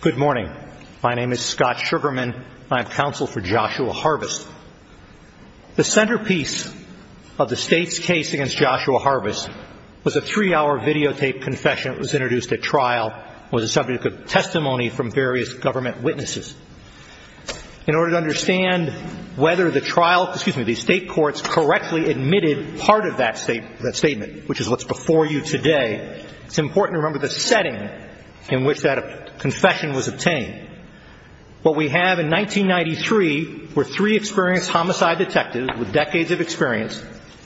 Good morning. My name is Scott Sugarman. I am counsel for Joshua Harvest. The centerpiece of the state's case against Joshua Harvest was a three-hour videotaped confession. It was introduced at trial. It was a subject of testimony from various government witnesses. In order to understand whether the state courts correctly admitted part of that statement, which is what's before you today, it's important to remember the setting in which that confession was obtained. What we have in 1993 were three experienced homicide detectives with decades of experience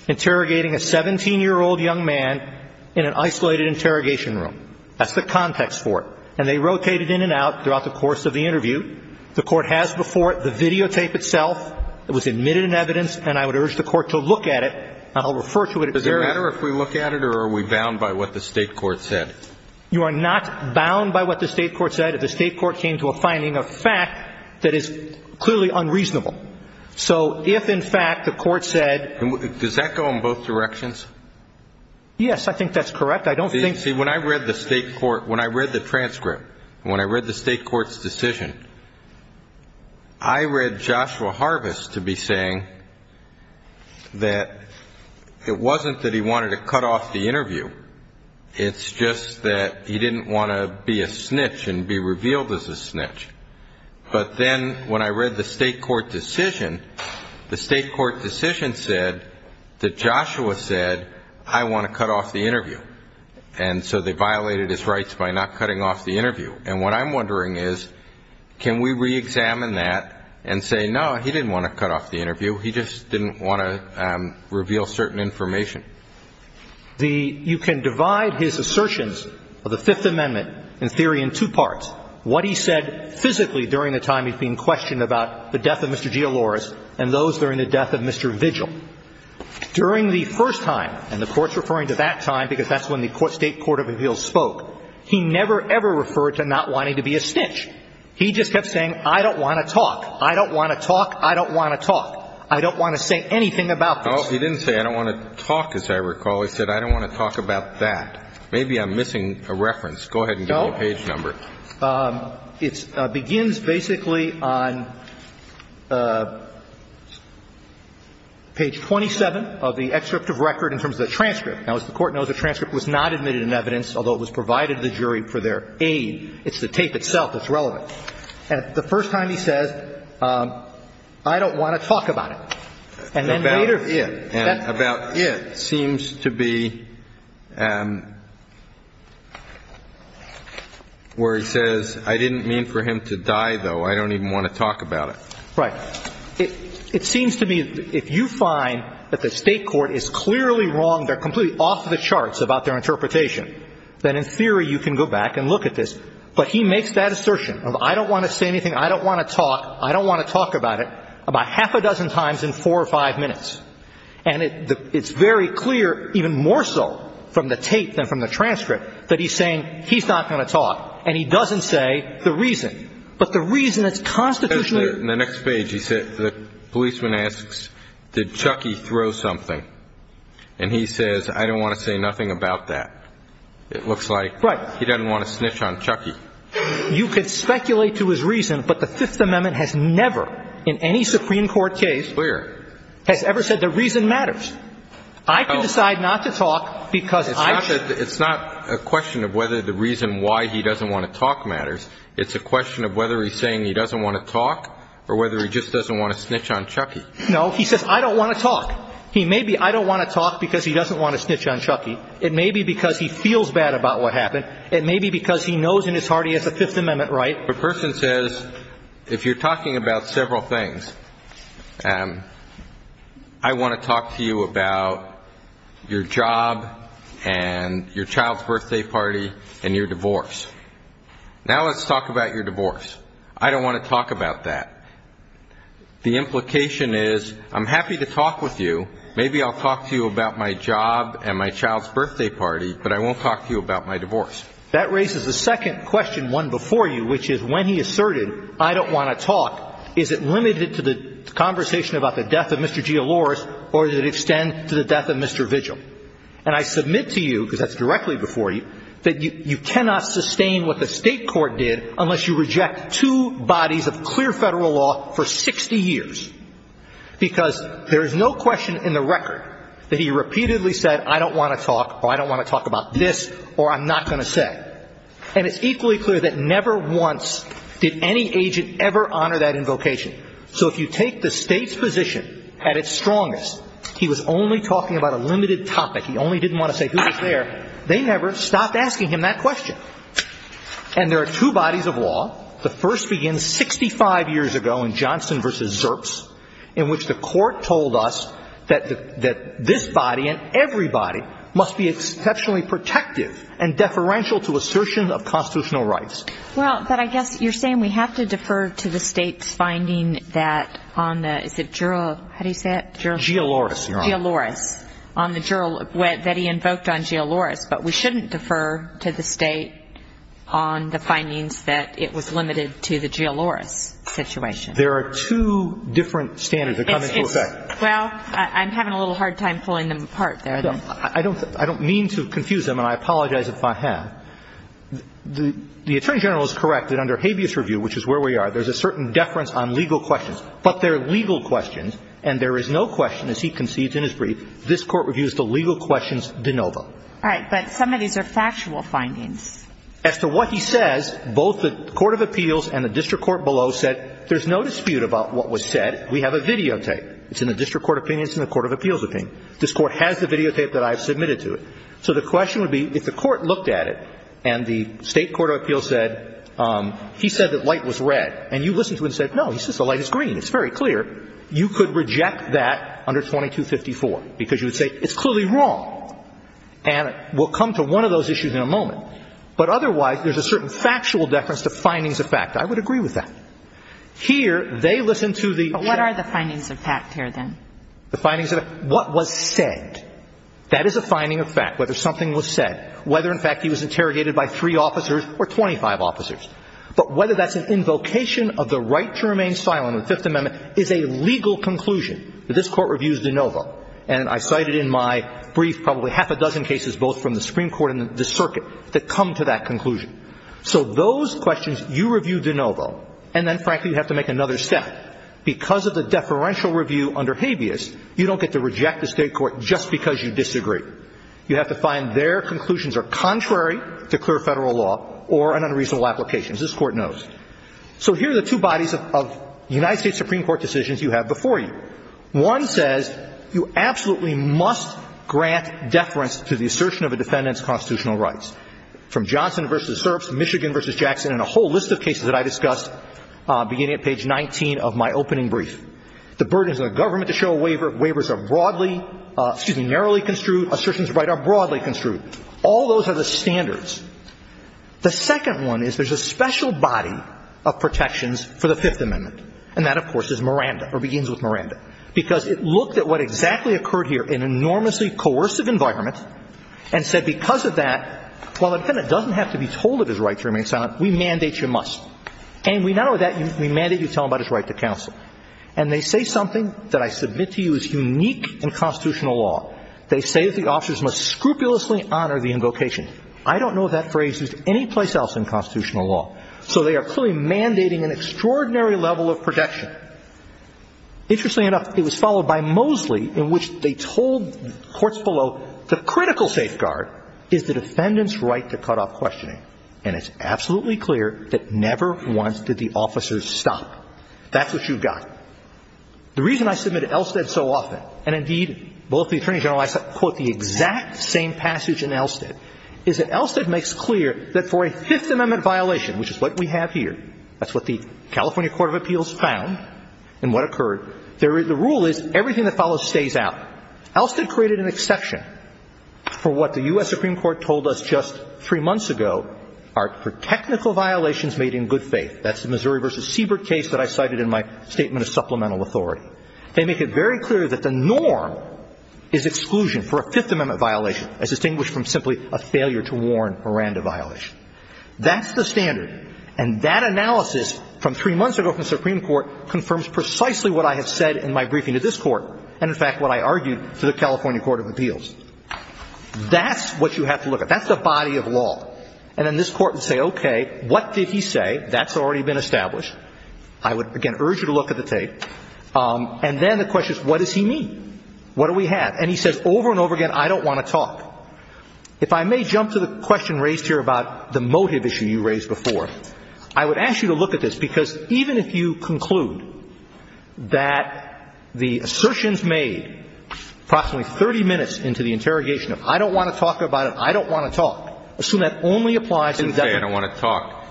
interrogating a 17-year-old young man in an isolated interrogation room. That's the context for it. And they rotated in and out throughout the course of the interview. The Court has before it the videotape itself. It was admitted in evidence, and I would urge the Court to look at it. Does it matter if we look at it, or are we bound by what the state court said? You are not bound by what the state court said if the state court came to a finding of fact that is clearly unreasonable. So if, in fact, the court said – Does that go in both directions? Yes, I think that's correct. I don't think – See, when I read the state court – when I read the transcript, when I read the state court's decision, I read Joshua Harvis to be saying that it wasn't that he wanted to cut off the interview. It's just that he didn't want to be a snitch and be revealed as a snitch. But then when I read the state court decision, the state court decision said that Joshua said, I want to cut off the interview. And so they violated his rights by not cutting off the interview. And what I'm wondering is, can we reexamine that and say, no, he didn't want to cut off the interview. He just didn't want to reveal certain information. The – you can divide his assertions of the Fifth Amendment in theory in two parts. What he said physically during the time he's been questioned about the death of Mr. Gialoris and those during the death of Mr. Vigil. During the first time, and the Court's referring to that time because that's when the state court of appeals spoke, he never, ever referred to not wanting to be a snitch. He just kept saying, I don't want to talk. I don't want to talk. I don't want to talk. I don't want to say anything about this. Well, he didn't say, I don't want to talk, as I recall. He said, I don't want to talk about that. Maybe I'm missing a reference. Go ahead and give me a page number. It begins basically on page 27 of the excerpt of record in terms of the transcript. Now, as the Court knows, the transcript was not admitted in evidence, although it was provided to the jury for their aid. It's the tape itself that's relevant. And the first time he says, I don't want to talk about it. And then later – About it. And about it seems to be where he says, I didn't mean for him to die, though. I don't even want to talk about it. Right. It seems to me if you find that the State court is clearly wrong, they're completely off the charts about their interpretation, then in theory you can go back and look at this. But he makes that assertion of I don't want to say anything, I don't want to talk, I don't want to talk about it, about half a dozen times in four or five minutes. And it's very clear, even more so from the tape than from the transcript, that he's saying he's not going to talk. And he doesn't say the reason. But the reason that's constitutionally – In the next page he said the policeman asks, did Chucky throw something? And he says, I don't want to say nothing about that. It looks like he doesn't want to snitch on Chucky. You could speculate to his reason, but the Fifth Amendment has never in any Supreme Court case – Clear. Has ever said the reason matters. I can decide not to talk because I – It's not a question of whether the reason why he doesn't want to talk matters. It's a question of whether he's saying he doesn't want to talk or whether he just doesn't want to snitch on Chucky. No, he says, I don't want to talk. He may be, I don't want to talk because he doesn't want to snitch on Chucky. It may be because he feels bad about what happened. It may be because he knows in his heart he has a Fifth Amendment right. The person says, if you're talking about several things, I want to talk to you about your job and your child's birthday party and your divorce. Now let's talk about your divorce. I don't want to talk about that. The implication is, I'm happy to talk with you. Maybe I'll talk to you about my job and my child's birthday party, but I won't talk to you about my divorce. That raises a second question, one before you, which is when he asserted, I don't want to talk, is it limited to the conversation about the death of Mr. G. Olores or does it extend to the death of Mr. Vigil? And I submit to you, because that's directly before you, that you cannot sustain what the state court did unless you reject two bodies of clear federal law for 60 years. Because there is no question in the record that he repeatedly said, I don't want to talk, or I don't want to talk about this, or I'm not going to say. And it's equally clear that never once did any agent ever honor that invocation. So if you take the state's position at its strongest, he was only talking about a limited topic. He only didn't want to say who was there. They never stopped asking him that question. And there are two bodies of law. The first begins 65 years ago in Johnson v. Zerps, in which the court told us that this body and every body must be exceptionally protective and deferential to assertion of constitutional rights. Well, but I guess you're saying we have to defer to the state's finding that on the, is it, how do you say it? G. Olores. G. Olores on the, that he invoked on G. Olores. But we shouldn't defer to the state on the findings that it was limited to the G. Olores situation. There are two different standards that come into effect. Well, I'm having a little hard time pulling them apart there. I don't mean to confuse them, and I apologize if I have. The Attorney General is correct that under habeas review, which is where we are, there's a certain deference on legal questions. But there are legal questions, and there is no question, as he concedes in his brief, this Court reviews the legal questions de novo. All right. But some of these are factual findings. As to what he says, both the court of appeals and the district court below said there's no dispute about what was said. We have a videotape. It's in the district court opinion. It's in the court of appeals opinion. This Court has the videotape that I have submitted to it. So the question would be, if the Court looked at it and the state court of appeals said, he said that light was red. And you listened to it and said, no, he says the light is green. It's very clear. You could reject that under 2254, because you would say it's clearly wrong. And we'll come to one of those issues in a moment. But otherwise, there's a certain factual deference to findings of fact. I would agree with that. Here, they listen to the check. But what are the findings of fact here, then? The findings of fact. What was said. That is a finding of fact, whether something was said, whether, in fact, he was interrogated by three officers or 25 officers. But whether that's an invocation of the right to remain silent in the Fifth Amendment is a legal conclusion. This Court reviews de novo. And I cited in my brief probably half a dozen cases, both from the Supreme Court and the circuit, that come to that conclusion. So those questions, you review de novo. And then, frankly, you have to make another step. Because of the deferential review under habeas, you don't get to reject the state court just because you disagree. You have to find their conclusions are contrary to clear Federal law or an unreasonable application. This Court knows. So here are the two bodies of United States Supreme Court decisions you have before you. One says you absolutely must grant deference to the assertion of a defendant's constitutional rights. From Johnson v. Serps, Michigan v. Jackson, and a whole list of cases that I discussed beginning at page 19 of my opening brief. The burden is on the government to show a waiver. Waivers are broadly, excuse me, narrowly construed. Assertions of right are broadly construed. All those are the standards. The second one is there's a special body of protections for the Fifth Amendment. And that, of course, is Miranda or begins with Miranda. Because it looked at what exactly occurred here in an enormously coercive environment and said because of that, while the defendant doesn't have to be told of his right to remain silent, we mandate you must. And we not only that, we mandate you tell him about his right to counsel. And they say something that I submit to you is unique in constitutional law. They say that the officers must scrupulously honor the invocation. I don't know if that phrase is anyplace else in constitutional law. So they are clearly mandating an extraordinary level of protection. Interestingly enough, it was followed by Mosley, in which they told courts below, the critical safeguard is the defendant's right to cut off questioning. And it's absolutely clear that never once did the officers stop. That's what you've got. The reason I submit to Elstead so often, and indeed both the Attorney General and I quote the exact same passage in Elstead, is that Elstead makes clear that for a Fifth Amendment violation, which is what we have here, that's what the California Court of Appeals found and what occurred, the rule is everything that follows stays out. Elstead created an exception for what the U.S. Supreme Court told us just three months ago for technical violations made in good faith. That's the Missouri v. Siebert case that I cited in my statement of supplemental authority. They make it very clear that the norm is exclusion for a Fifth Amendment violation as distinguished from simply a failure to warn Miranda violation. That's the standard. And that analysis from three months ago from the Supreme Court confirms precisely what I have said in my briefing to this Court and, in fact, what I argued to the California Court of Appeals. That's what you have to look at. That's the body of law. And then this Court would say, okay, what did he say? That's already been established. I would, again, urge you to look at the tape. And then the question is, what does he mean? What do we have? And he says over and over again, I don't want to talk. If I may jump to the question raised here about the motive issue you raised before, I would ask you to look at this because even if you conclude that the assertions made approximately 30 minutes into the interrogation of I don't want to talk about it, I don't want to talk. Assume that only applies to the defendant. I don't want to talk.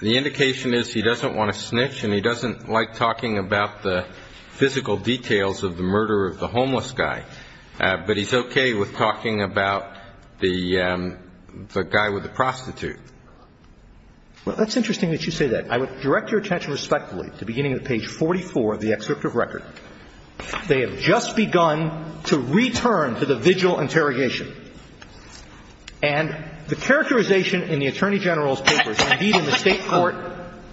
The indication is he doesn't want to snitch and he doesn't like talking about the physical details of the murder of the homeless guy. But he's okay with talking about the guy with the prostitute. Well, that's interesting that you say that. I would direct your attention respectfully to beginning of page 44 of the excerpt of record. They have just begun to return to the vigil interrogation. And the characterization in the Attorney General's papers, indeed in the State Court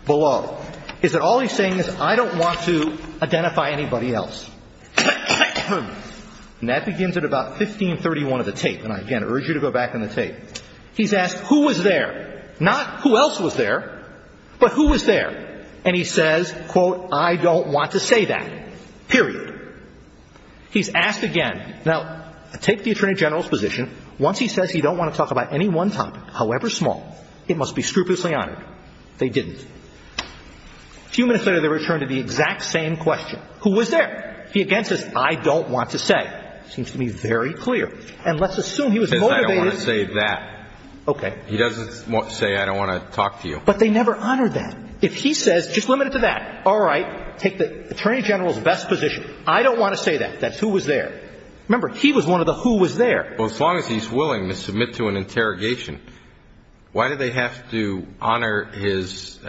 below, is that all he's saying is I don't want to identify anybody else. And that begins at about 1531 of the tape. And I, again, urge you to go back in the tape. He's asked who was there. Not who else was there, but who was there. And he says, quote, I don't want to say that. Period. He's asked again. Now, take the Attorney General's position. Once he says he don't want to talk about any one topic, however small, it must be scrupulously honored. They didn't. A few minutes later, they return to the exact same question. Who was there? He again says, I don't want to say. Seems to be very clear. And let's assume he was motivated. Because I don't want to say that. Okay. He doesn't say I don't want to talk to you. But they never honored that. If he says, just limit it to that, all right. Take the Attorney General's best position. I don't want to say that. That's who was there. Remember, he was one of the who was there. Well, as long as he's willing to submit to an interrogation, why do they have to honor his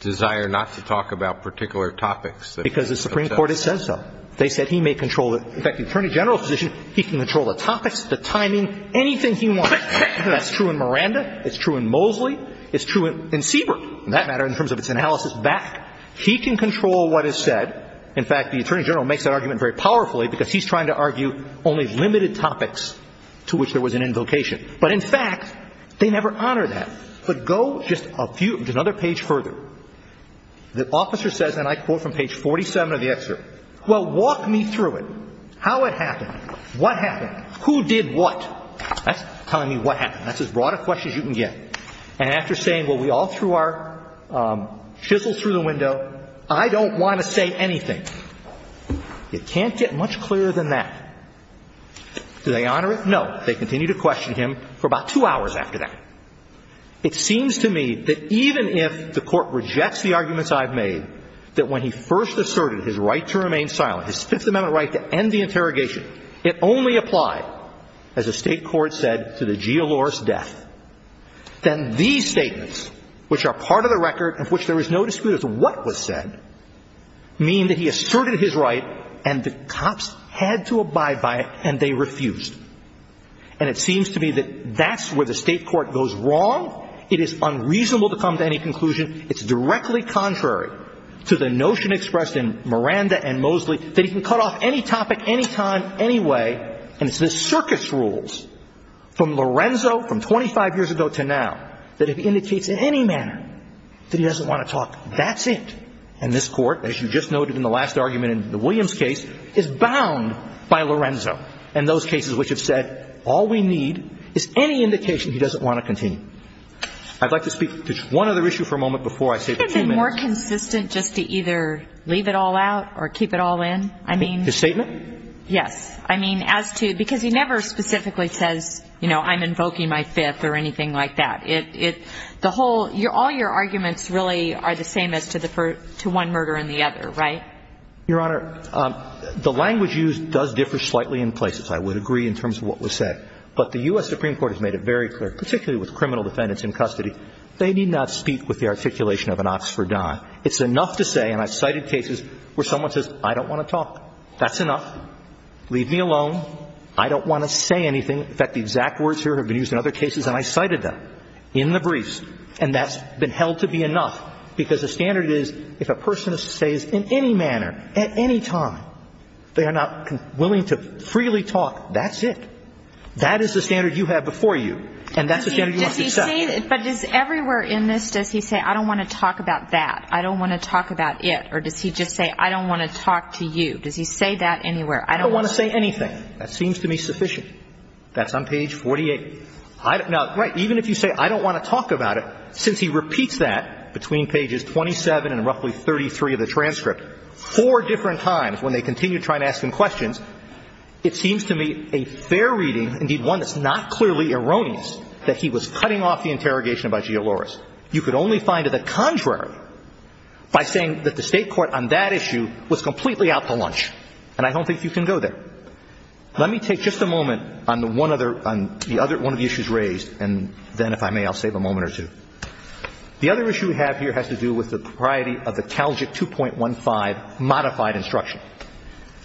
desire not to talk about particular topics? Because the Supreme Court has said so. They said he may control it. In fact, the Attorney General's position, he can control the topics, the timing, anything he wants. That's true in Miranda. It's true in Mosley. It's true in Siebert, for that matter, in terms of its analysis back. He can control what is said. In fact, the Attorney General makes that argument very powerfully because he's trying to argue only limited topics to which there was an invocation. But, in fact, they never honor that. But go just a few, just another page further. The officer says, and I quote from page 47 of the excerpt, well, walk me through it. How it happened. What happened. Who did what. That's telling me what happened. That's as broad a question as you can get. And after saying, well, we all threw our chisels through the window, I don't want to say anything. You can't get much clearer than that. Do they honor it? No. They continue to question him for about two hours after that. It seems to me that even if the Court rejects the arguments I've made, that when he first asserted his right to remain silent, his Fifth Amendment right to end the interrogation, it only applied, as the State court said, to the geolores death. Then these statements, which are part of the record, of which there is no dispute as to what was said, mean that he asserted his right, and the cops had to abide by it, and they refused. And it seems to me that that's where the State court goes wrong. It is unreasonable to come to any conclusion. It's directly contrary to the notion expressed in Miranda and Mosley that he can cut off any topic, any time, any way. And it's the circuit's rules from Lorenzo from 25 years ago to now that if he indicates in any manner that he doesn't want to talk, that's it. And this Court, as you just noted in the last argument in the Williams case, is bound by Lorenzo and those cases which have said all we need is any indication he doesn't want to continue. I'd like to speak to one other issue for a moment before I say the two minutes. Could it have been more consistent just to either leave it all out or keep it all in? I mean – His statement? Yes. I mean, as to – because he never specifically says, you know, I'm invoking my fifth or anything like that. It – the whole – all your arguments really are the same as to the – to one murder and the other, right? Your Honor, the language used does differ slightly in places, I would agree, in terms of what was said. But the U.S. Supreme Court has made it very clear, particularly with criminal defendants in custody, they need not speak with the articulation of an oxfordon. It's enough to say, and I've cited cases where someone says, I don't want to talk. That's enough. Leave me alone. I don't want to say anything. In fact, the exact words here have been used in other cases, and I cited them in the briefs. And that's been held to be enough. Because the standard is, if a person says in any manner, at any time, they are not willing to freely talk, that's it. That is the standard you have before you. And that's the standard you must accept. But does – everywhere in this, does he say, I don't want to talk about that, I don't want to talk about it? Or does he just say, I don't want to talk to you? Does he say that anywhere? I don't want to say anything. That seems to me sufficient. That's on page 48. Now, even if you say, I don't want to talk about it, since he repeats that between pages 27 and roughly 33 of the transcript four different times when they continue to try to ask him questions, it seems to me a fair reading, indeed one that's not clearly erroneous, that he was cutting off the interrogation by Gialloris. You could only find it the contrary by saying that the State court on that issue was completely out to lunch, and I don't think you can go there. Let me take just a moment on the one other – on the other – one of the issues raised, and then if I may, I'll save a moment or two. The other issue we have here has to do with the propriety of the Talgic 2.15 modified instruction.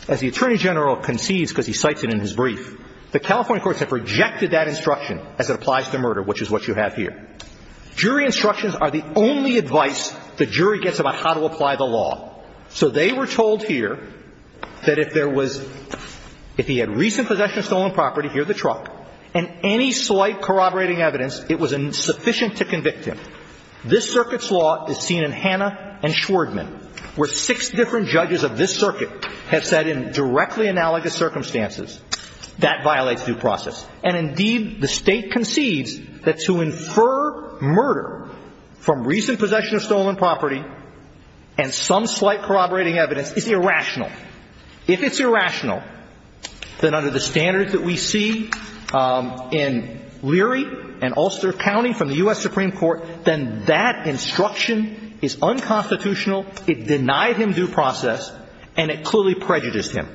As the Attorney General concedes, because he cites it in his brief, the California courts have rejected that instruction as it applies to murder, which is what you have here. Jury instructions are the only advice the jury gets about how to apply the law. So they were told here that if there was – if he had recent possession of stolen property, here's the truck, and any slight corroborating evidence, it was insufficient to convict him. This Circuit's law is seen in Hannah and Schwerdman, where six different judges of this Circuit have said in directly analogous circumstances, that violates due process. And indeed, the State concedes that to infer murder from recent possession of stolen property and some slight corroborating evidence is irrational. If it's irrational, then under the standards that we see in Leary and Ulster County from the U.S. Supreme Court, then that instruction is unconstitutional, it denied him due process, and it clearly prejudiced him.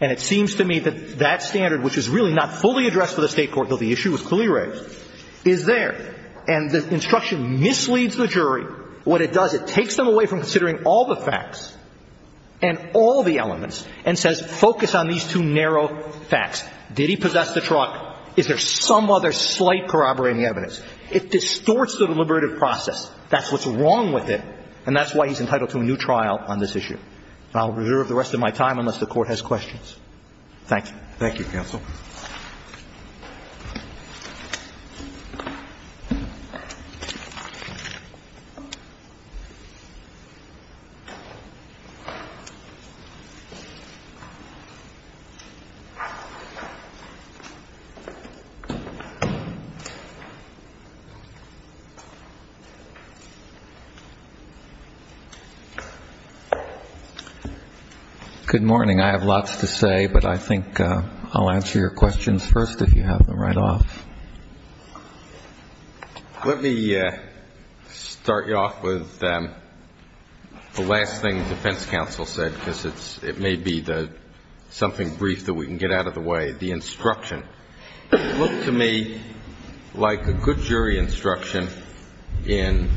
And it seems to me that that standard, which is really not fully addressed for the State court, though the issue was clearly raised, is there. And the instruction misleads the jury. What it does, it takes them away from considering all the facts and all the elements and says, focus on these two narrow facts. Did he possess the truck? Is there some other slight corroborating evidence? It distorts the deliberative process. That's what's wrong with it. And that's why he's entitled to a new trial on this issue. And I'll reserve the rest of my time unless the Court has questions. Thank you. Thank you, counsel. Good morning. I have lots to say, but I think I'll answer your questions first if you have them right off. Let me start you off with the last thing the defense counsel said, because it may be something brief that we can get out of the way. The instruction. It looked to me like a good jury instruction in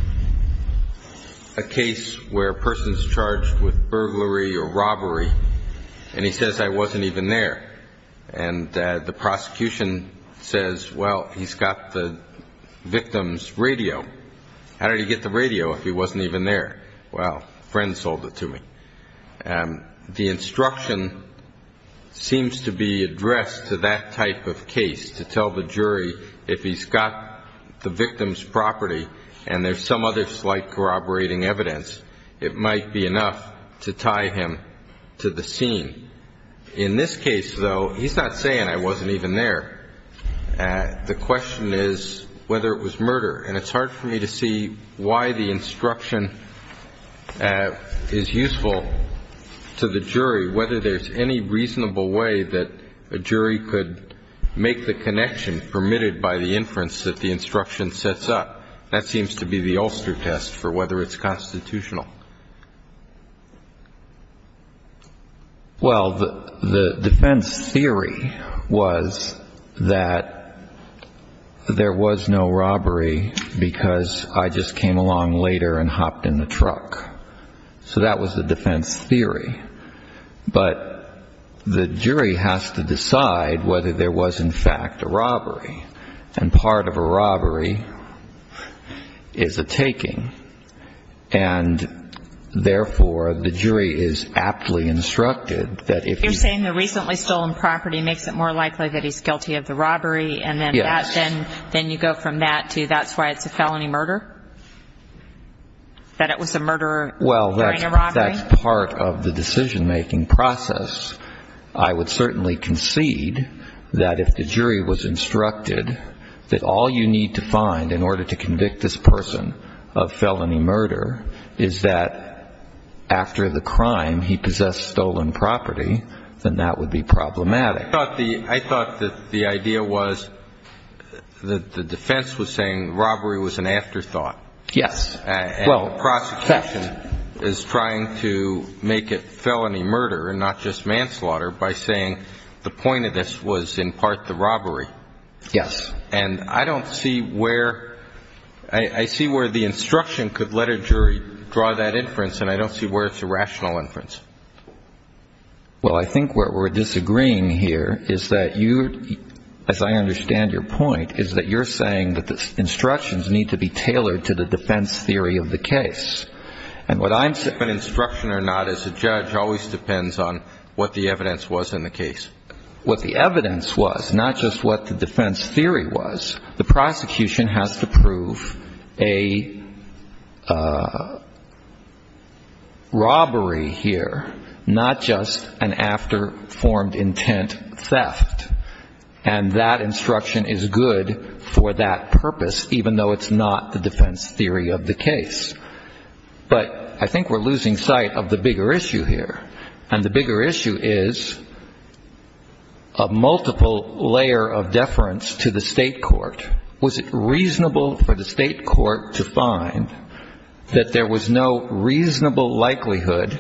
a case where a person is charged with burglary or robbery, and he says, I wasn't even there. And the prosecution says, well, he's got the victim's radio. How did he get the radio if he wasn't even there? Well, a friend sold it to me. The instruction seems to be addressed to that type of case to tell the jury if he's got the victim's property and there's some other slight corroborating evidence, it might be enough to tie him to the scene. In this case, though, he's not saying I wasn't even there. The question is whether it was murder. And it's hard for me to see why the instruction is useful to the jury, whether there's any reasonable way that a jury could make the connection permitted by the inference that the instruction sets up. That seems to be the Ulster test for whether it's constitutional. Well, the defense theory was that there was no robbery because I just came along later and hopped in the truck. So that was the defense theory. But the jury has to decide whether there was, in fact, a robbery. And part of a robbery is a taking. And, therefore, the jury is aptly instructed that if you ---- You're saying the recently stolen property makes it more likely that he's guilty of the robbery. Yes. And then you go from that to that's why it's a felony murder, that it was a murderer during a robbery? Well, that's part of the decision-making process. I would certainly concede that if the jury was instructed that all you need to find in order to convict this person of felony murder is that after the crime he possessed stolen property, then that would be problematic. I thought that the idea was that the defense was saying robbery was an afterthought. Yes. And the prosecution is trying to make it felony murder and not just manslaughter by saying the point of this was in part the robbery. Yes. And I don't see where ---- I see where the instruction could let a jury draw that inference, and I don't see where it's a rational inference. Well, I think what we're disagreeing here is that you, as I understand your point, is that you're saying that the instructions need to be tailored to the defense theory of the case. And what I'm saying ---- Whether it's an instruction or not as a judge always depends on what the evidence was in the case. What the evidence was, not just what the defense theory was. The prosecution has to prove a robbery here, not just an after-formed intent theft. And that instruction is good for that purpose, even though it's not the defense theory of the case. But I think we're losing sight of the bigger issue here. And the bigger issue is a multiple layer of deference to the state court. Was it reasonable for the state court to find that there was no reasonable likelihood,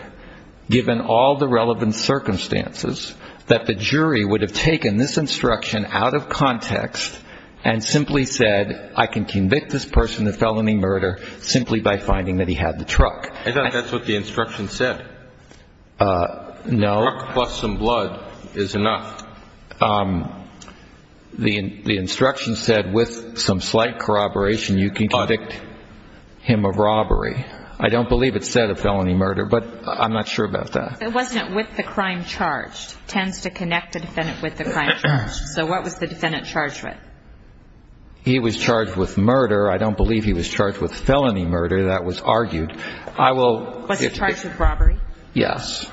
given all the relevant circumstances, that the jury would have taken this instruction out of context and simply said, I can convict this person of felony murder simply by finding that he had the truck. I thought that's what the instruction said. No. The truck plus some blood is enough. The instruction said with some slight corroboration, you can convict him of robbery. I don't believe it said a felony murder, but I'm not sure about that. It wasn't with the crime charged. It tends to connect the defendant with the crime charged. So what was the defendant charged with? He was charged with murder. I don't believe he was charged with felony murder. That was argued. Was he charged with robbery? Yes.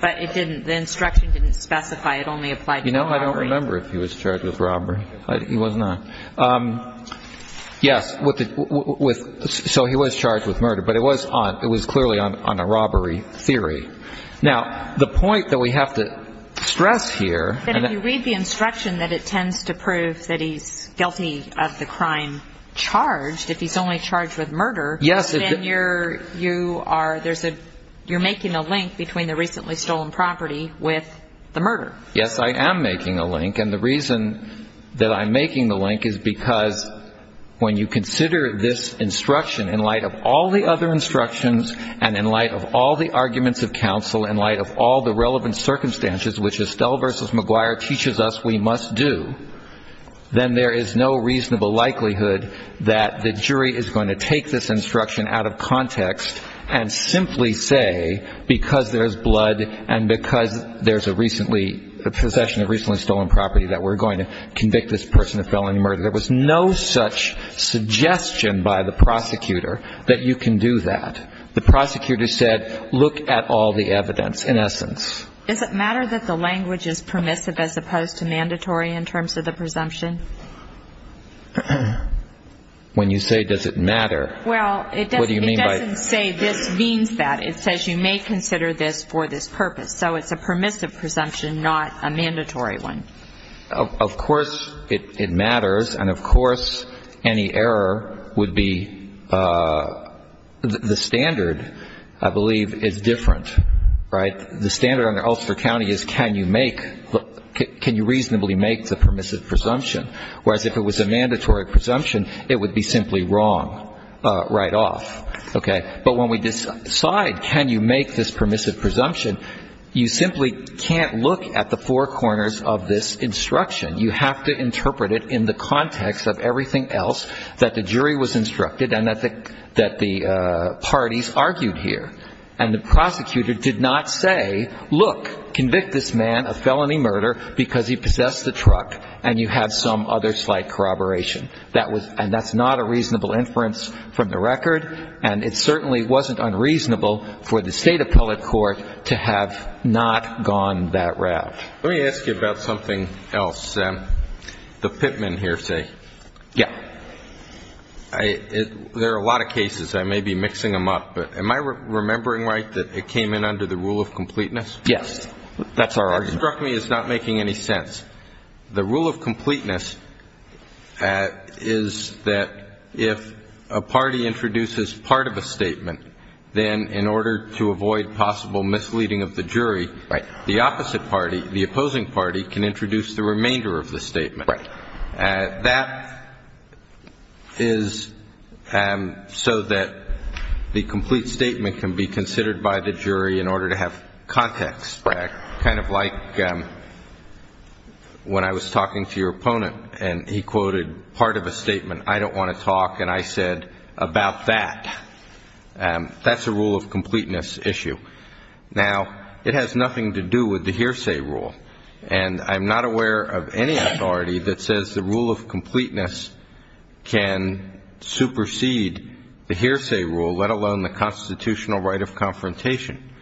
But the instruction didn't specify. It only applied to robbery. You know, I don't remember if he was charged with robbery. He was not. Yes. So he was charged with murder. But it was clearly on a robbery theory. Now, the point that we have to stress here. If you read the instruction that it tends to prove that he's guilty of the crime charged, if he's only charged with murder, then you're making a link between the recently stolen property with the murder. Yes, I am making a link. And the reason that I'm making the link is because when you consider this instruction, in light of all the other instructions and in light of all the arguments of counsel, in light of all the relevant circumstances, which Estelle v. McGuire teaches us we must do, then there is no reasonable likelihood that the jury is going to take this instruction out of context and simply say because there's blood and because there's a recently, a possession of recently stolen property that we're going to convict this person of felony murder. There was no such suggestion by the prosecutor that you can do that. The prosecutor said look at all the evidence, in essence. Does it matter that the language is permissive as opposed to mandatory in terms of the presumption? When you say does it matter, what do you mean by it? Well, it doesn't say this means that. It says you may consider this for this purpose. So it's a permissive presumption, not a mandatory one. Of course it matters, and of course any error would be the standard, I believe, is different, right? The standard under Ulster County is can you make, can you reasonably make the permissive presumption, whereas if it was a mandatory presumption, it would be simply wrong right off, okay? But when we decide can you make this permissive presumption, you simply can't look at the four corners of this instruction. You have to interpret it in the context of everything else that the jury was instructed and that the parties argued here. And the prosecutor did not say look, convict this man of felony murder because he possessed the truck and you have some other slight corroboration. And that's not a reasonable inference from the record, and it certainly wasn't unreasonable for the state appellate court to have not gone that route. Let me ask you about something else. The Pittman hearsay. Yeah. There are a lot of cases. I may be mixing them up, but am I remembering right that it came in under the rule of completeness? Yes. That's our argument. It struck me as not making any sense. The rule of completeness is that if a party introduces part of a statement, then in order to avoid possible misleading of the jury, the opposite party, the opposing party, can introduce the remainder of the statement. Right. That is so that the complete statement can be considered by the jury in order to have context. Right. Kind of like when I was talking to your opponent and he quoted part of a statement, I don't want to talk, and I said about that. That's a rule of completeness issue. Now, it has nothing to do with the hearsay rule, and I'm not aware of any authority that says the rule of completeness can supersede the hearsay rule, let alone the constitutional right of confrontation.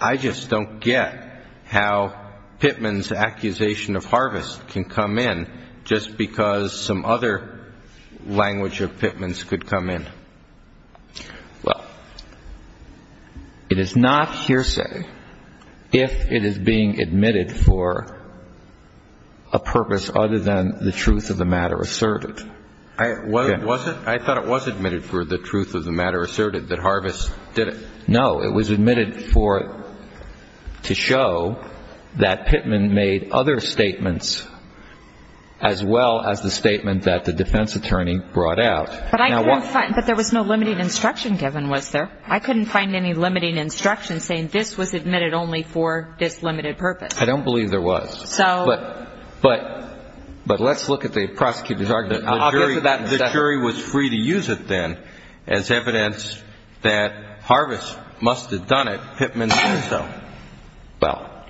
I just don't get how Pittman's accusation of harvest can come in just because some other language of Pittman's could come in. Well, it is not hearsay if it is being admitted for a purpose other than the truth of the matter asserted. Was it? I thought it was admitted for the truth of the matter asserted that harvest did it. No. It was admitted to show that Pittman made other statements as well as the statement that the defense attorney brought out. But there was no limiting instruction given, was there? I couldn't find any limiting instruction saying this was admitted only for this limited purpose. I don't believe there was. But let's look at the prosecutor's argument. The jury was free to use it then as evidence that harvest must have done it, Pittman did so. Well,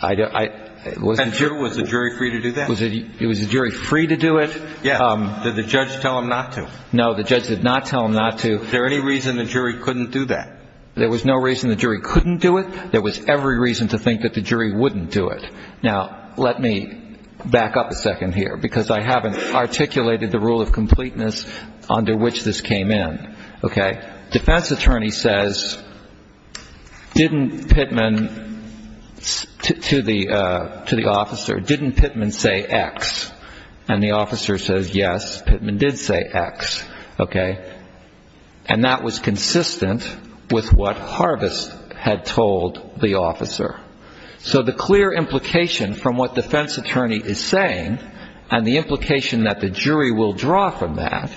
I don't – And was the jury free to do that? Was the jury free to do it? Yeah. Did the judge tell him not to? No, the judge did not tell him not to. Is there any reason the jury couldn't do that? There was no reason the jury couldn't do it. There was every reason to think that the jury wouldn't do it. Now, let me back up a second here because I haven't articulated the rule of completeness under which this came in, okay? Defense attorney says, didn't Pittman – to the officer, didn't Pittman say X? And the officer says, yes, Pittman did say X, okay? And that was consistent with what harvest had told the officer. So the clear implication from what defense attorney is saying and the implication that the jury will draw from that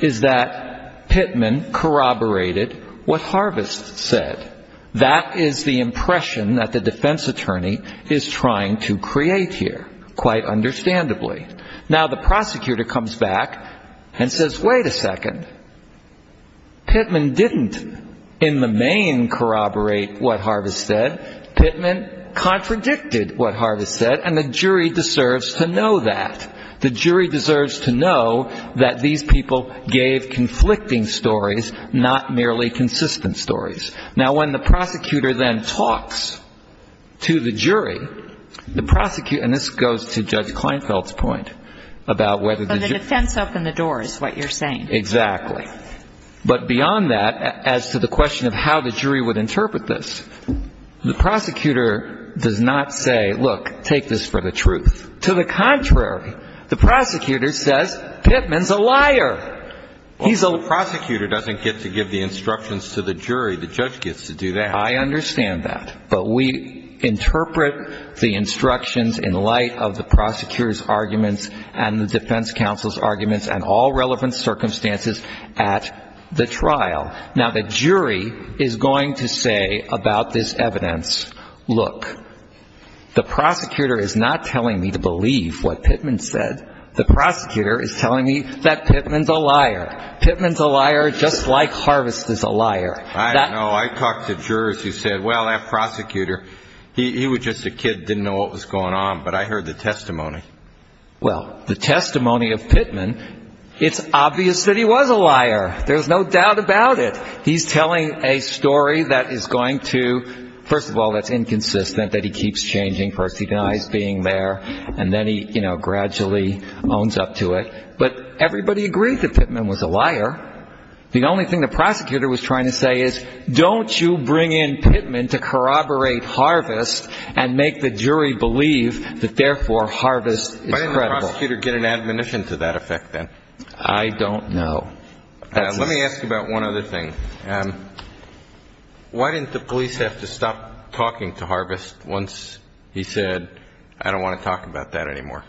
is that Pittman corroborated what harvest said. That is the impression that the defense attorney is trying to create here, quite understandably. Now, the prosecutor comes back and says, wait a second. Pittman didn't in the main corroborate what harvest said. Pittman contradicted what harvest said, and the jury deserves to know that. The jury deserves to know that these people gave conflicting stories, not merely consistent stories. Now, when the prosecutor then talks to the jury, the prosecutor – and this goes to Judge Kleinfeld's point about whether the jury – But the defense opened the door is what you're saying. Exactly. But beyond that, as to the question of how the jury would interpret this, the prosecutor does not say, look, take this for the truth. To the contrary, the prosecutor says Pittman's a liar. He's a – Well, the prosecutor doesn't get to give the instructions to the jury. The judge gets to do that. I understand that. But we interpret the instructions in light of the prosecutor's arguments and the defense counsel's arguments and all relevant circumstances at the trial. Now, the jury is going to say about this evidence, look, the prosecutor is not telling me to believe what Pittman said. The prosecutor is telling me that Pittman's a liar. Pittman's a liar just like harvest is a liar. I don't know. I talked to jurors who said, well, that prosecutor, he was just a kid, didn't know what was going on. But I heard the testimony. Well, the testimony of Pittman, it's obvious that he was a liar. There's no doubt about it. He's telling a story that is going to – first of all, that's inconsistent, that he keeps changing. First, he denies being there. And then he, you know, gradually owns up to it. But everybody agreed that Pittman was a liar. The only thing the prosecutor was trying to say is don't you bring in Pittman to corroborate harvest and make the jury believe that therefore harvest is credible. Why didn't the prosecutor get an admonition to that effect then? I don't know. Let me ask you about one other thing. Why didn't the police have to stop talking to harvest once he said, I don't want to talk about that anymore?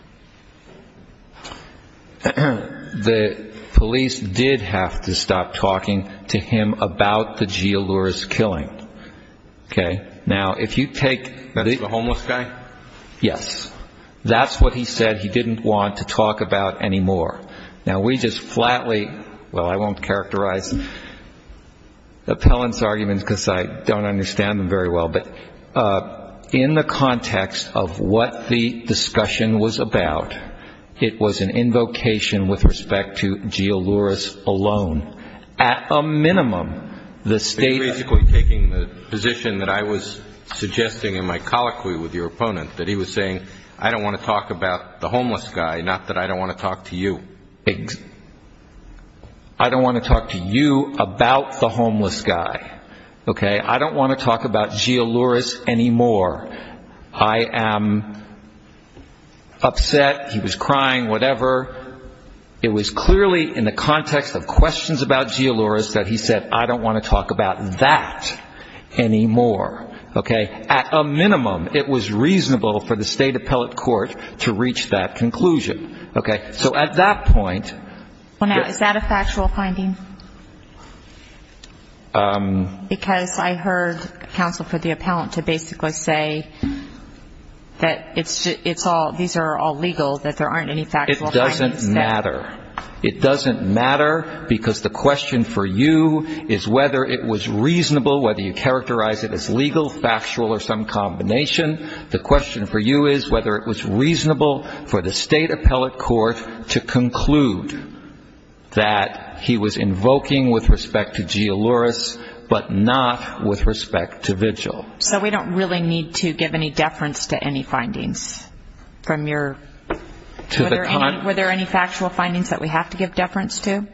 The police did have to stop talking to him about the Gialouris killing. Okay? Now, if you take the – That's the homeless guy? Yes. That's what he said he didn't want to talk about anymore. Now, we just flatly – well, I won't characterize appellant's arguments because I don't understand them very well. But in the context of what the discussion was about, it was an invocation with respect to Gialouris alone. At a minimum, the state – You're basically taking the position that I was suggesting in my colloquy with your opponent, that he was saying I don't want to talk about the homeless guy, not that I don't want to talk to you. I don't want to talk to you about the homeless guy. Okay? I don't want to talk about Gialouris anymore. I am upset. He was crying, whatever. It was clearly in the context of questions about Gialouris that he said I don't want to talk about that anymore. Okay? At a minimum, it was reasonable for the state appellate court to reach that conclusion. Okay? So at that point – Well, now, is that a factual finding? Because I heard counsel for the appellant to basically say that it's all – these are all legal, that there aren't any factual findings. It doesn't matter. It doesn't matter because the question for you is whether it was reasonable, whether you characterize it as legal, factual, or some combination. The question for you is whether it was reasonable for the state appellate court to conclude that he was invoking with respect to Gialouris but not with respect to vigil. So we don't really need to give any deference to any findings from your – were there any factual findings that we have to give deference to?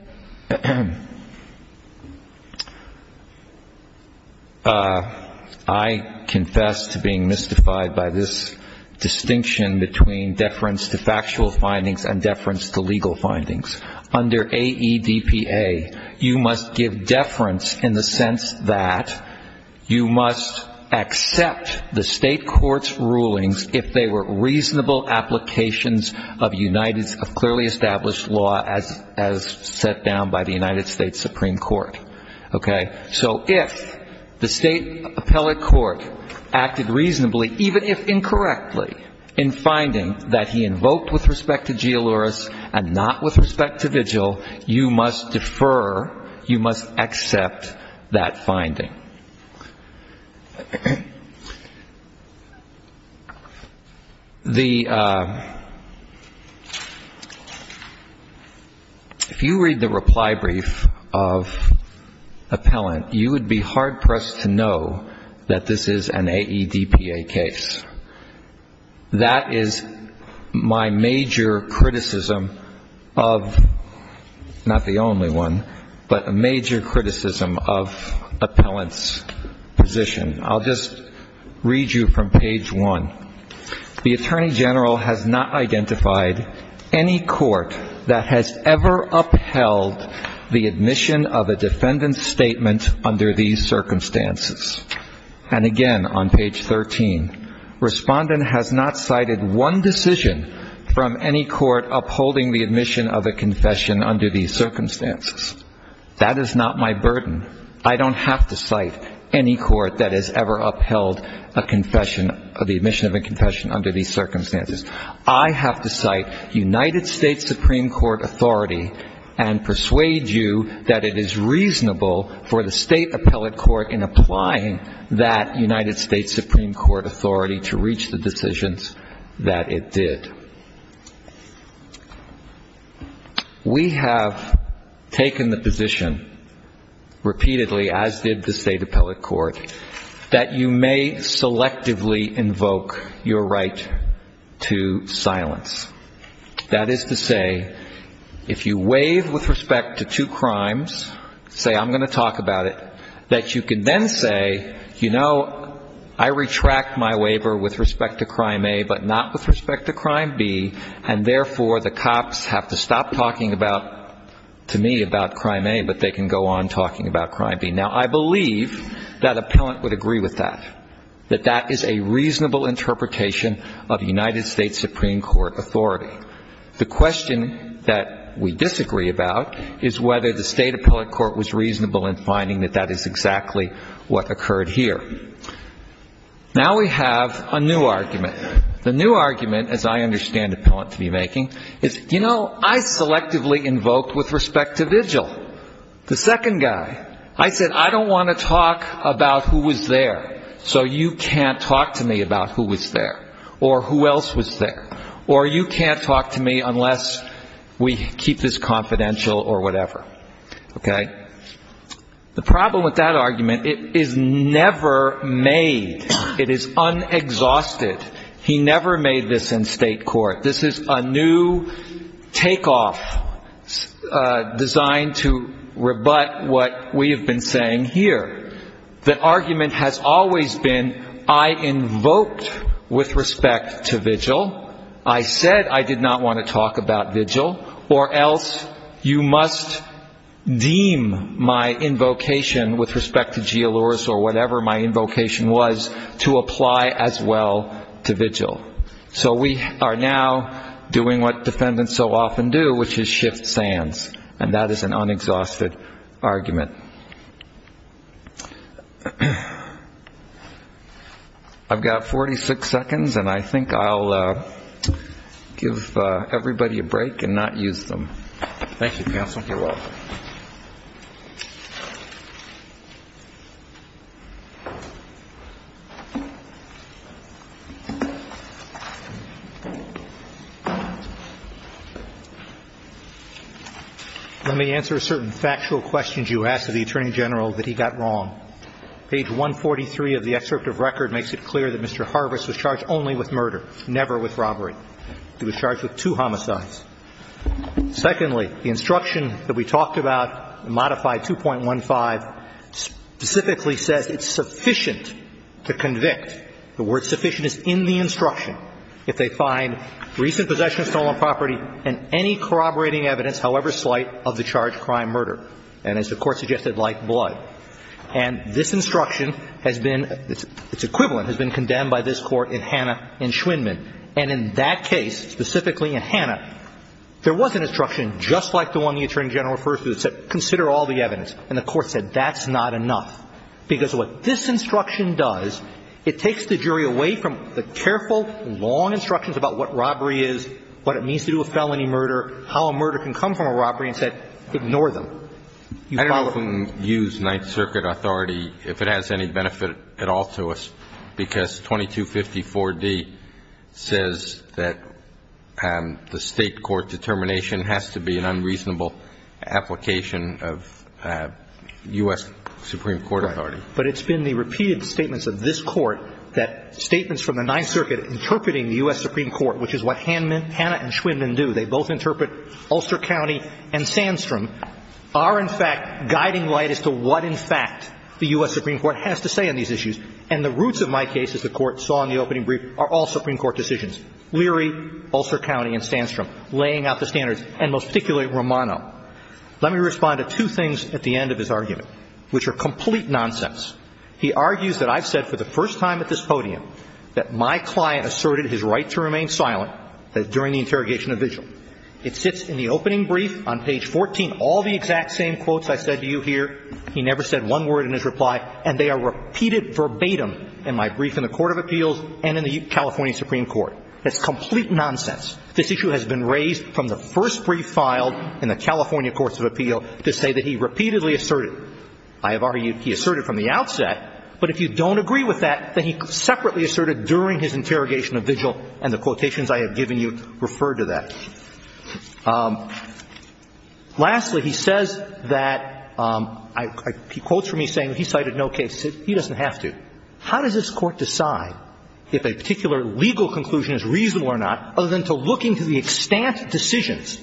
I confess to being mystified by this distinction between deference to factual findings and deference to legal findings. Under AEDPA, you must give deference in the sense that you must accept the state court's rulings if they were reasonable applications of clearly established law as set down by the United States Supreme Court. Okay? So if the state appellate court acted reasonably, even if incorrectly, in finding that he invoked with respect to Gialouris and not with respect to vigil, you must defer, you must accept that finding. The – if you read the reply brief of appellant, you would be hard-pressed to know that this is an AEDPA case. That is my major criticism of – not the only one, but a major criticism of appellant's position. I'll just read you from page 1. The attorney general has not identified any court that has ever upheld the admission of a defendant's statement under these circumstances. And again, on page 13, respondent has not cited one decision from any court upholding the admission of a confession under these circumstances. That is not my burden. I don't have to cite any court that has ever upheld a confession – the admission of a confession under these circumstances. I have to cite United States Supreme Court authority and persuade you that it is reasonable for the state appellate court in applying that United States Supreme Court authority to reach the decisions that it did. We have taken the position repeatedly, as did the state appellate court, that you may selectively invoke your right to silence. That is to say, if you waive with respect to two crimes, say, I'm going to talk about it, that you can then say, you know, I retract my waiver with respect to crime A, but not with respect to crime B, and therefore the cops have to stop talking about, to me, about crime A, but they can go on talking about crime B. Now, I believe that appellant would agree with that, that that is a reasonable interpretation of United States Supreme Court authority. The question that we disagree about is whether the state appellate court was reasonable in finding that that is exactly what occurred here. Now we have a new argument. The new argument, as I understand appellant to be making, is, you know, I selectively invoked with respect to vigil. The second guy, I said, I don't want to talk about who was there, so you can't talk to me about who was there or who else was there, or you can't talk to me unless we keep this confidential or whatever. Okay? The problem with that argument, it is never made. It is unexhausted. He never made this in state court. This is a new takeoff designed to rebut what we have been saying here. The argument has always been I invoked with respect to vigil. I said I did not want to talk about vigil, or else you must deem my invocation with respect to Gialouris or whatever my invocation was to apply as well to vigil. So we are now doing what defendants so often do, which is shift sands, and that is an unexhausted argument. I've got 46 seconds, and I think I'll give everybody a break and not use them. Thank you, counsel. You're welcome. Let me answer a certain factual question you asked of the Attorney General that he got wrong. Page 143 of the excerpt of record makes it clear that Mr. Harvest was charged only with murder, never with robbery. He was charged with two homicides. The first killer, whose words were failed to direct, was Hal Hauserman, who has strived to capture and take down any evidence he found to be spot on. Let me give you two points. Secondarily, the instruction that we talked about, modified 2.15, specifically says it is sufficient to convict, the word sufficient is in the instruction 2.15, if they find recent possession of stolen property and any corroborating evidence, however slight, of the charged crime murder. And as the Court suggested, like blood. And this instruction has been, its equivalent has been condemned by this Court in Hanna and Schwindman. And in that case, specifically in Hanna, there was an instruction just like the one the Attorney General refers to that said consider all the evidence. And the Court said that's not enough. Because what this instruction does, it takes the jury away from the careful, long instructions about what robbery is, what it means to do a felony murder, how a murder can come from a robbery, and said ignore them. I don't know if we can use Ninth Circuit authority, if it has any benefit at all to us. Because 2250.4d says that the State court determination has to be an unreasonable application of U.S. Supreme Court authority. Right. But it's been the repeated statements of this Court that statements from the Ninth Circuit interpreting the U.S. Supreme Court, which is what Hanna and Schwindman do. They both interpret Ulster County and Sandstrom are, in fact, guiding light as to what, in fact, the U.S. Supreme Court has to say on these issues. And the roots of my case, as the Court saw in the opening brief, are all Supreme Court decisions. Leary, Ulster County, and Sandstrom laying out the standards, and most particularly Romano. Let me respond to two things at the end of his argument, which are complete nonsense. He argues that I've said for the first time at this podium that my client asserted his right to remain silent during the interrogation of vigil. It sits in the opening brief on page 14, all the exact same quotes I said to you here. He never said one word in his reply. And they are repeated verbatim in my brief in the Court of Appeals and in the California Supreme Court. That's complete nonsense. This issue has been raised from the first brief filed in the California Courts of Appeal to say that he repeatedly asserted. I have argued he asserted from the outset. But if you don't agree with that, then he separately asserted during his interrogation of vigil, and the quotations I have given you refer to that. Lastly, he says that he quotes from me saying he cited no case. He doesn't have to. How does this Court decide if a particular legal conclusion is reasonable or not other than to look into the extant decisions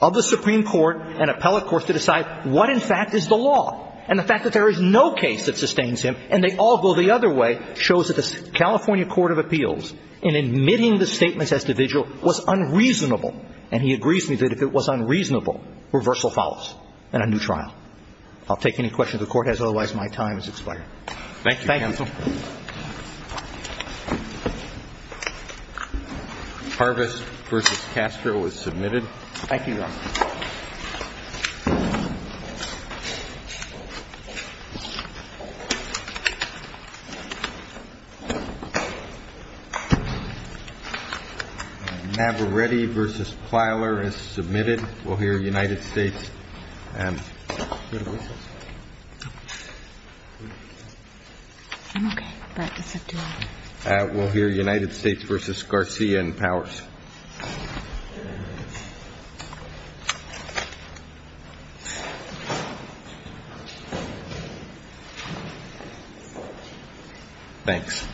of the Supreme Court and appellate courts to decide what, in fact, is the law? And the fact that there is no case that sustains him, and they all go the other way, shows that the California Court of Appeals, in admitting the statements as to vigil, was unreasonable. And he agrees with me that if it was unreasonable, reversal follows and a new trial. I'll take any questions the Court has. Otherwise, my time has expired. Thank you, counsel. Thank you. Harvest v. Castro is submitted. Thank you, Your Honor. Navaretti v. Plyler is submitted. We'll hear United States v. Garcia and Powers. Thanks.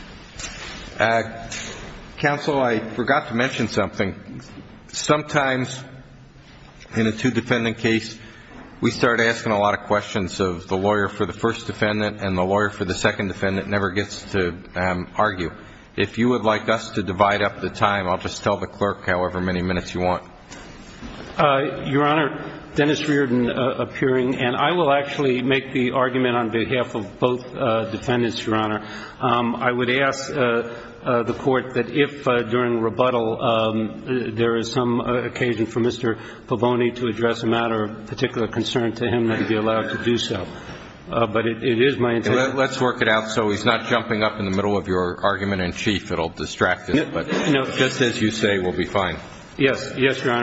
Counsel, I forgot to mention something. Sometimes in a two-defendant case, we start asking a lot of questions of the lawyer for the first defendant and the lawyer for the second defendant never gets to argue. If you would like us to divide up the time, I'll just tell the clerk however many minutes you want. Your Honor, Dennis Reardon appearing. And I will actually make the argument on behalf of both defendants, Your Honor. I would ask the Court that if during rebuttal there is some occasion for Mr. Pavone to address a matter of particular concern to him, that he be allowed to do so. But it is my intention. Let's work it out. So he's not jumping up in the middle of your argument in chief. It will distract him. But just as you say, we'll be fine. Yes. Yes, Your Honor.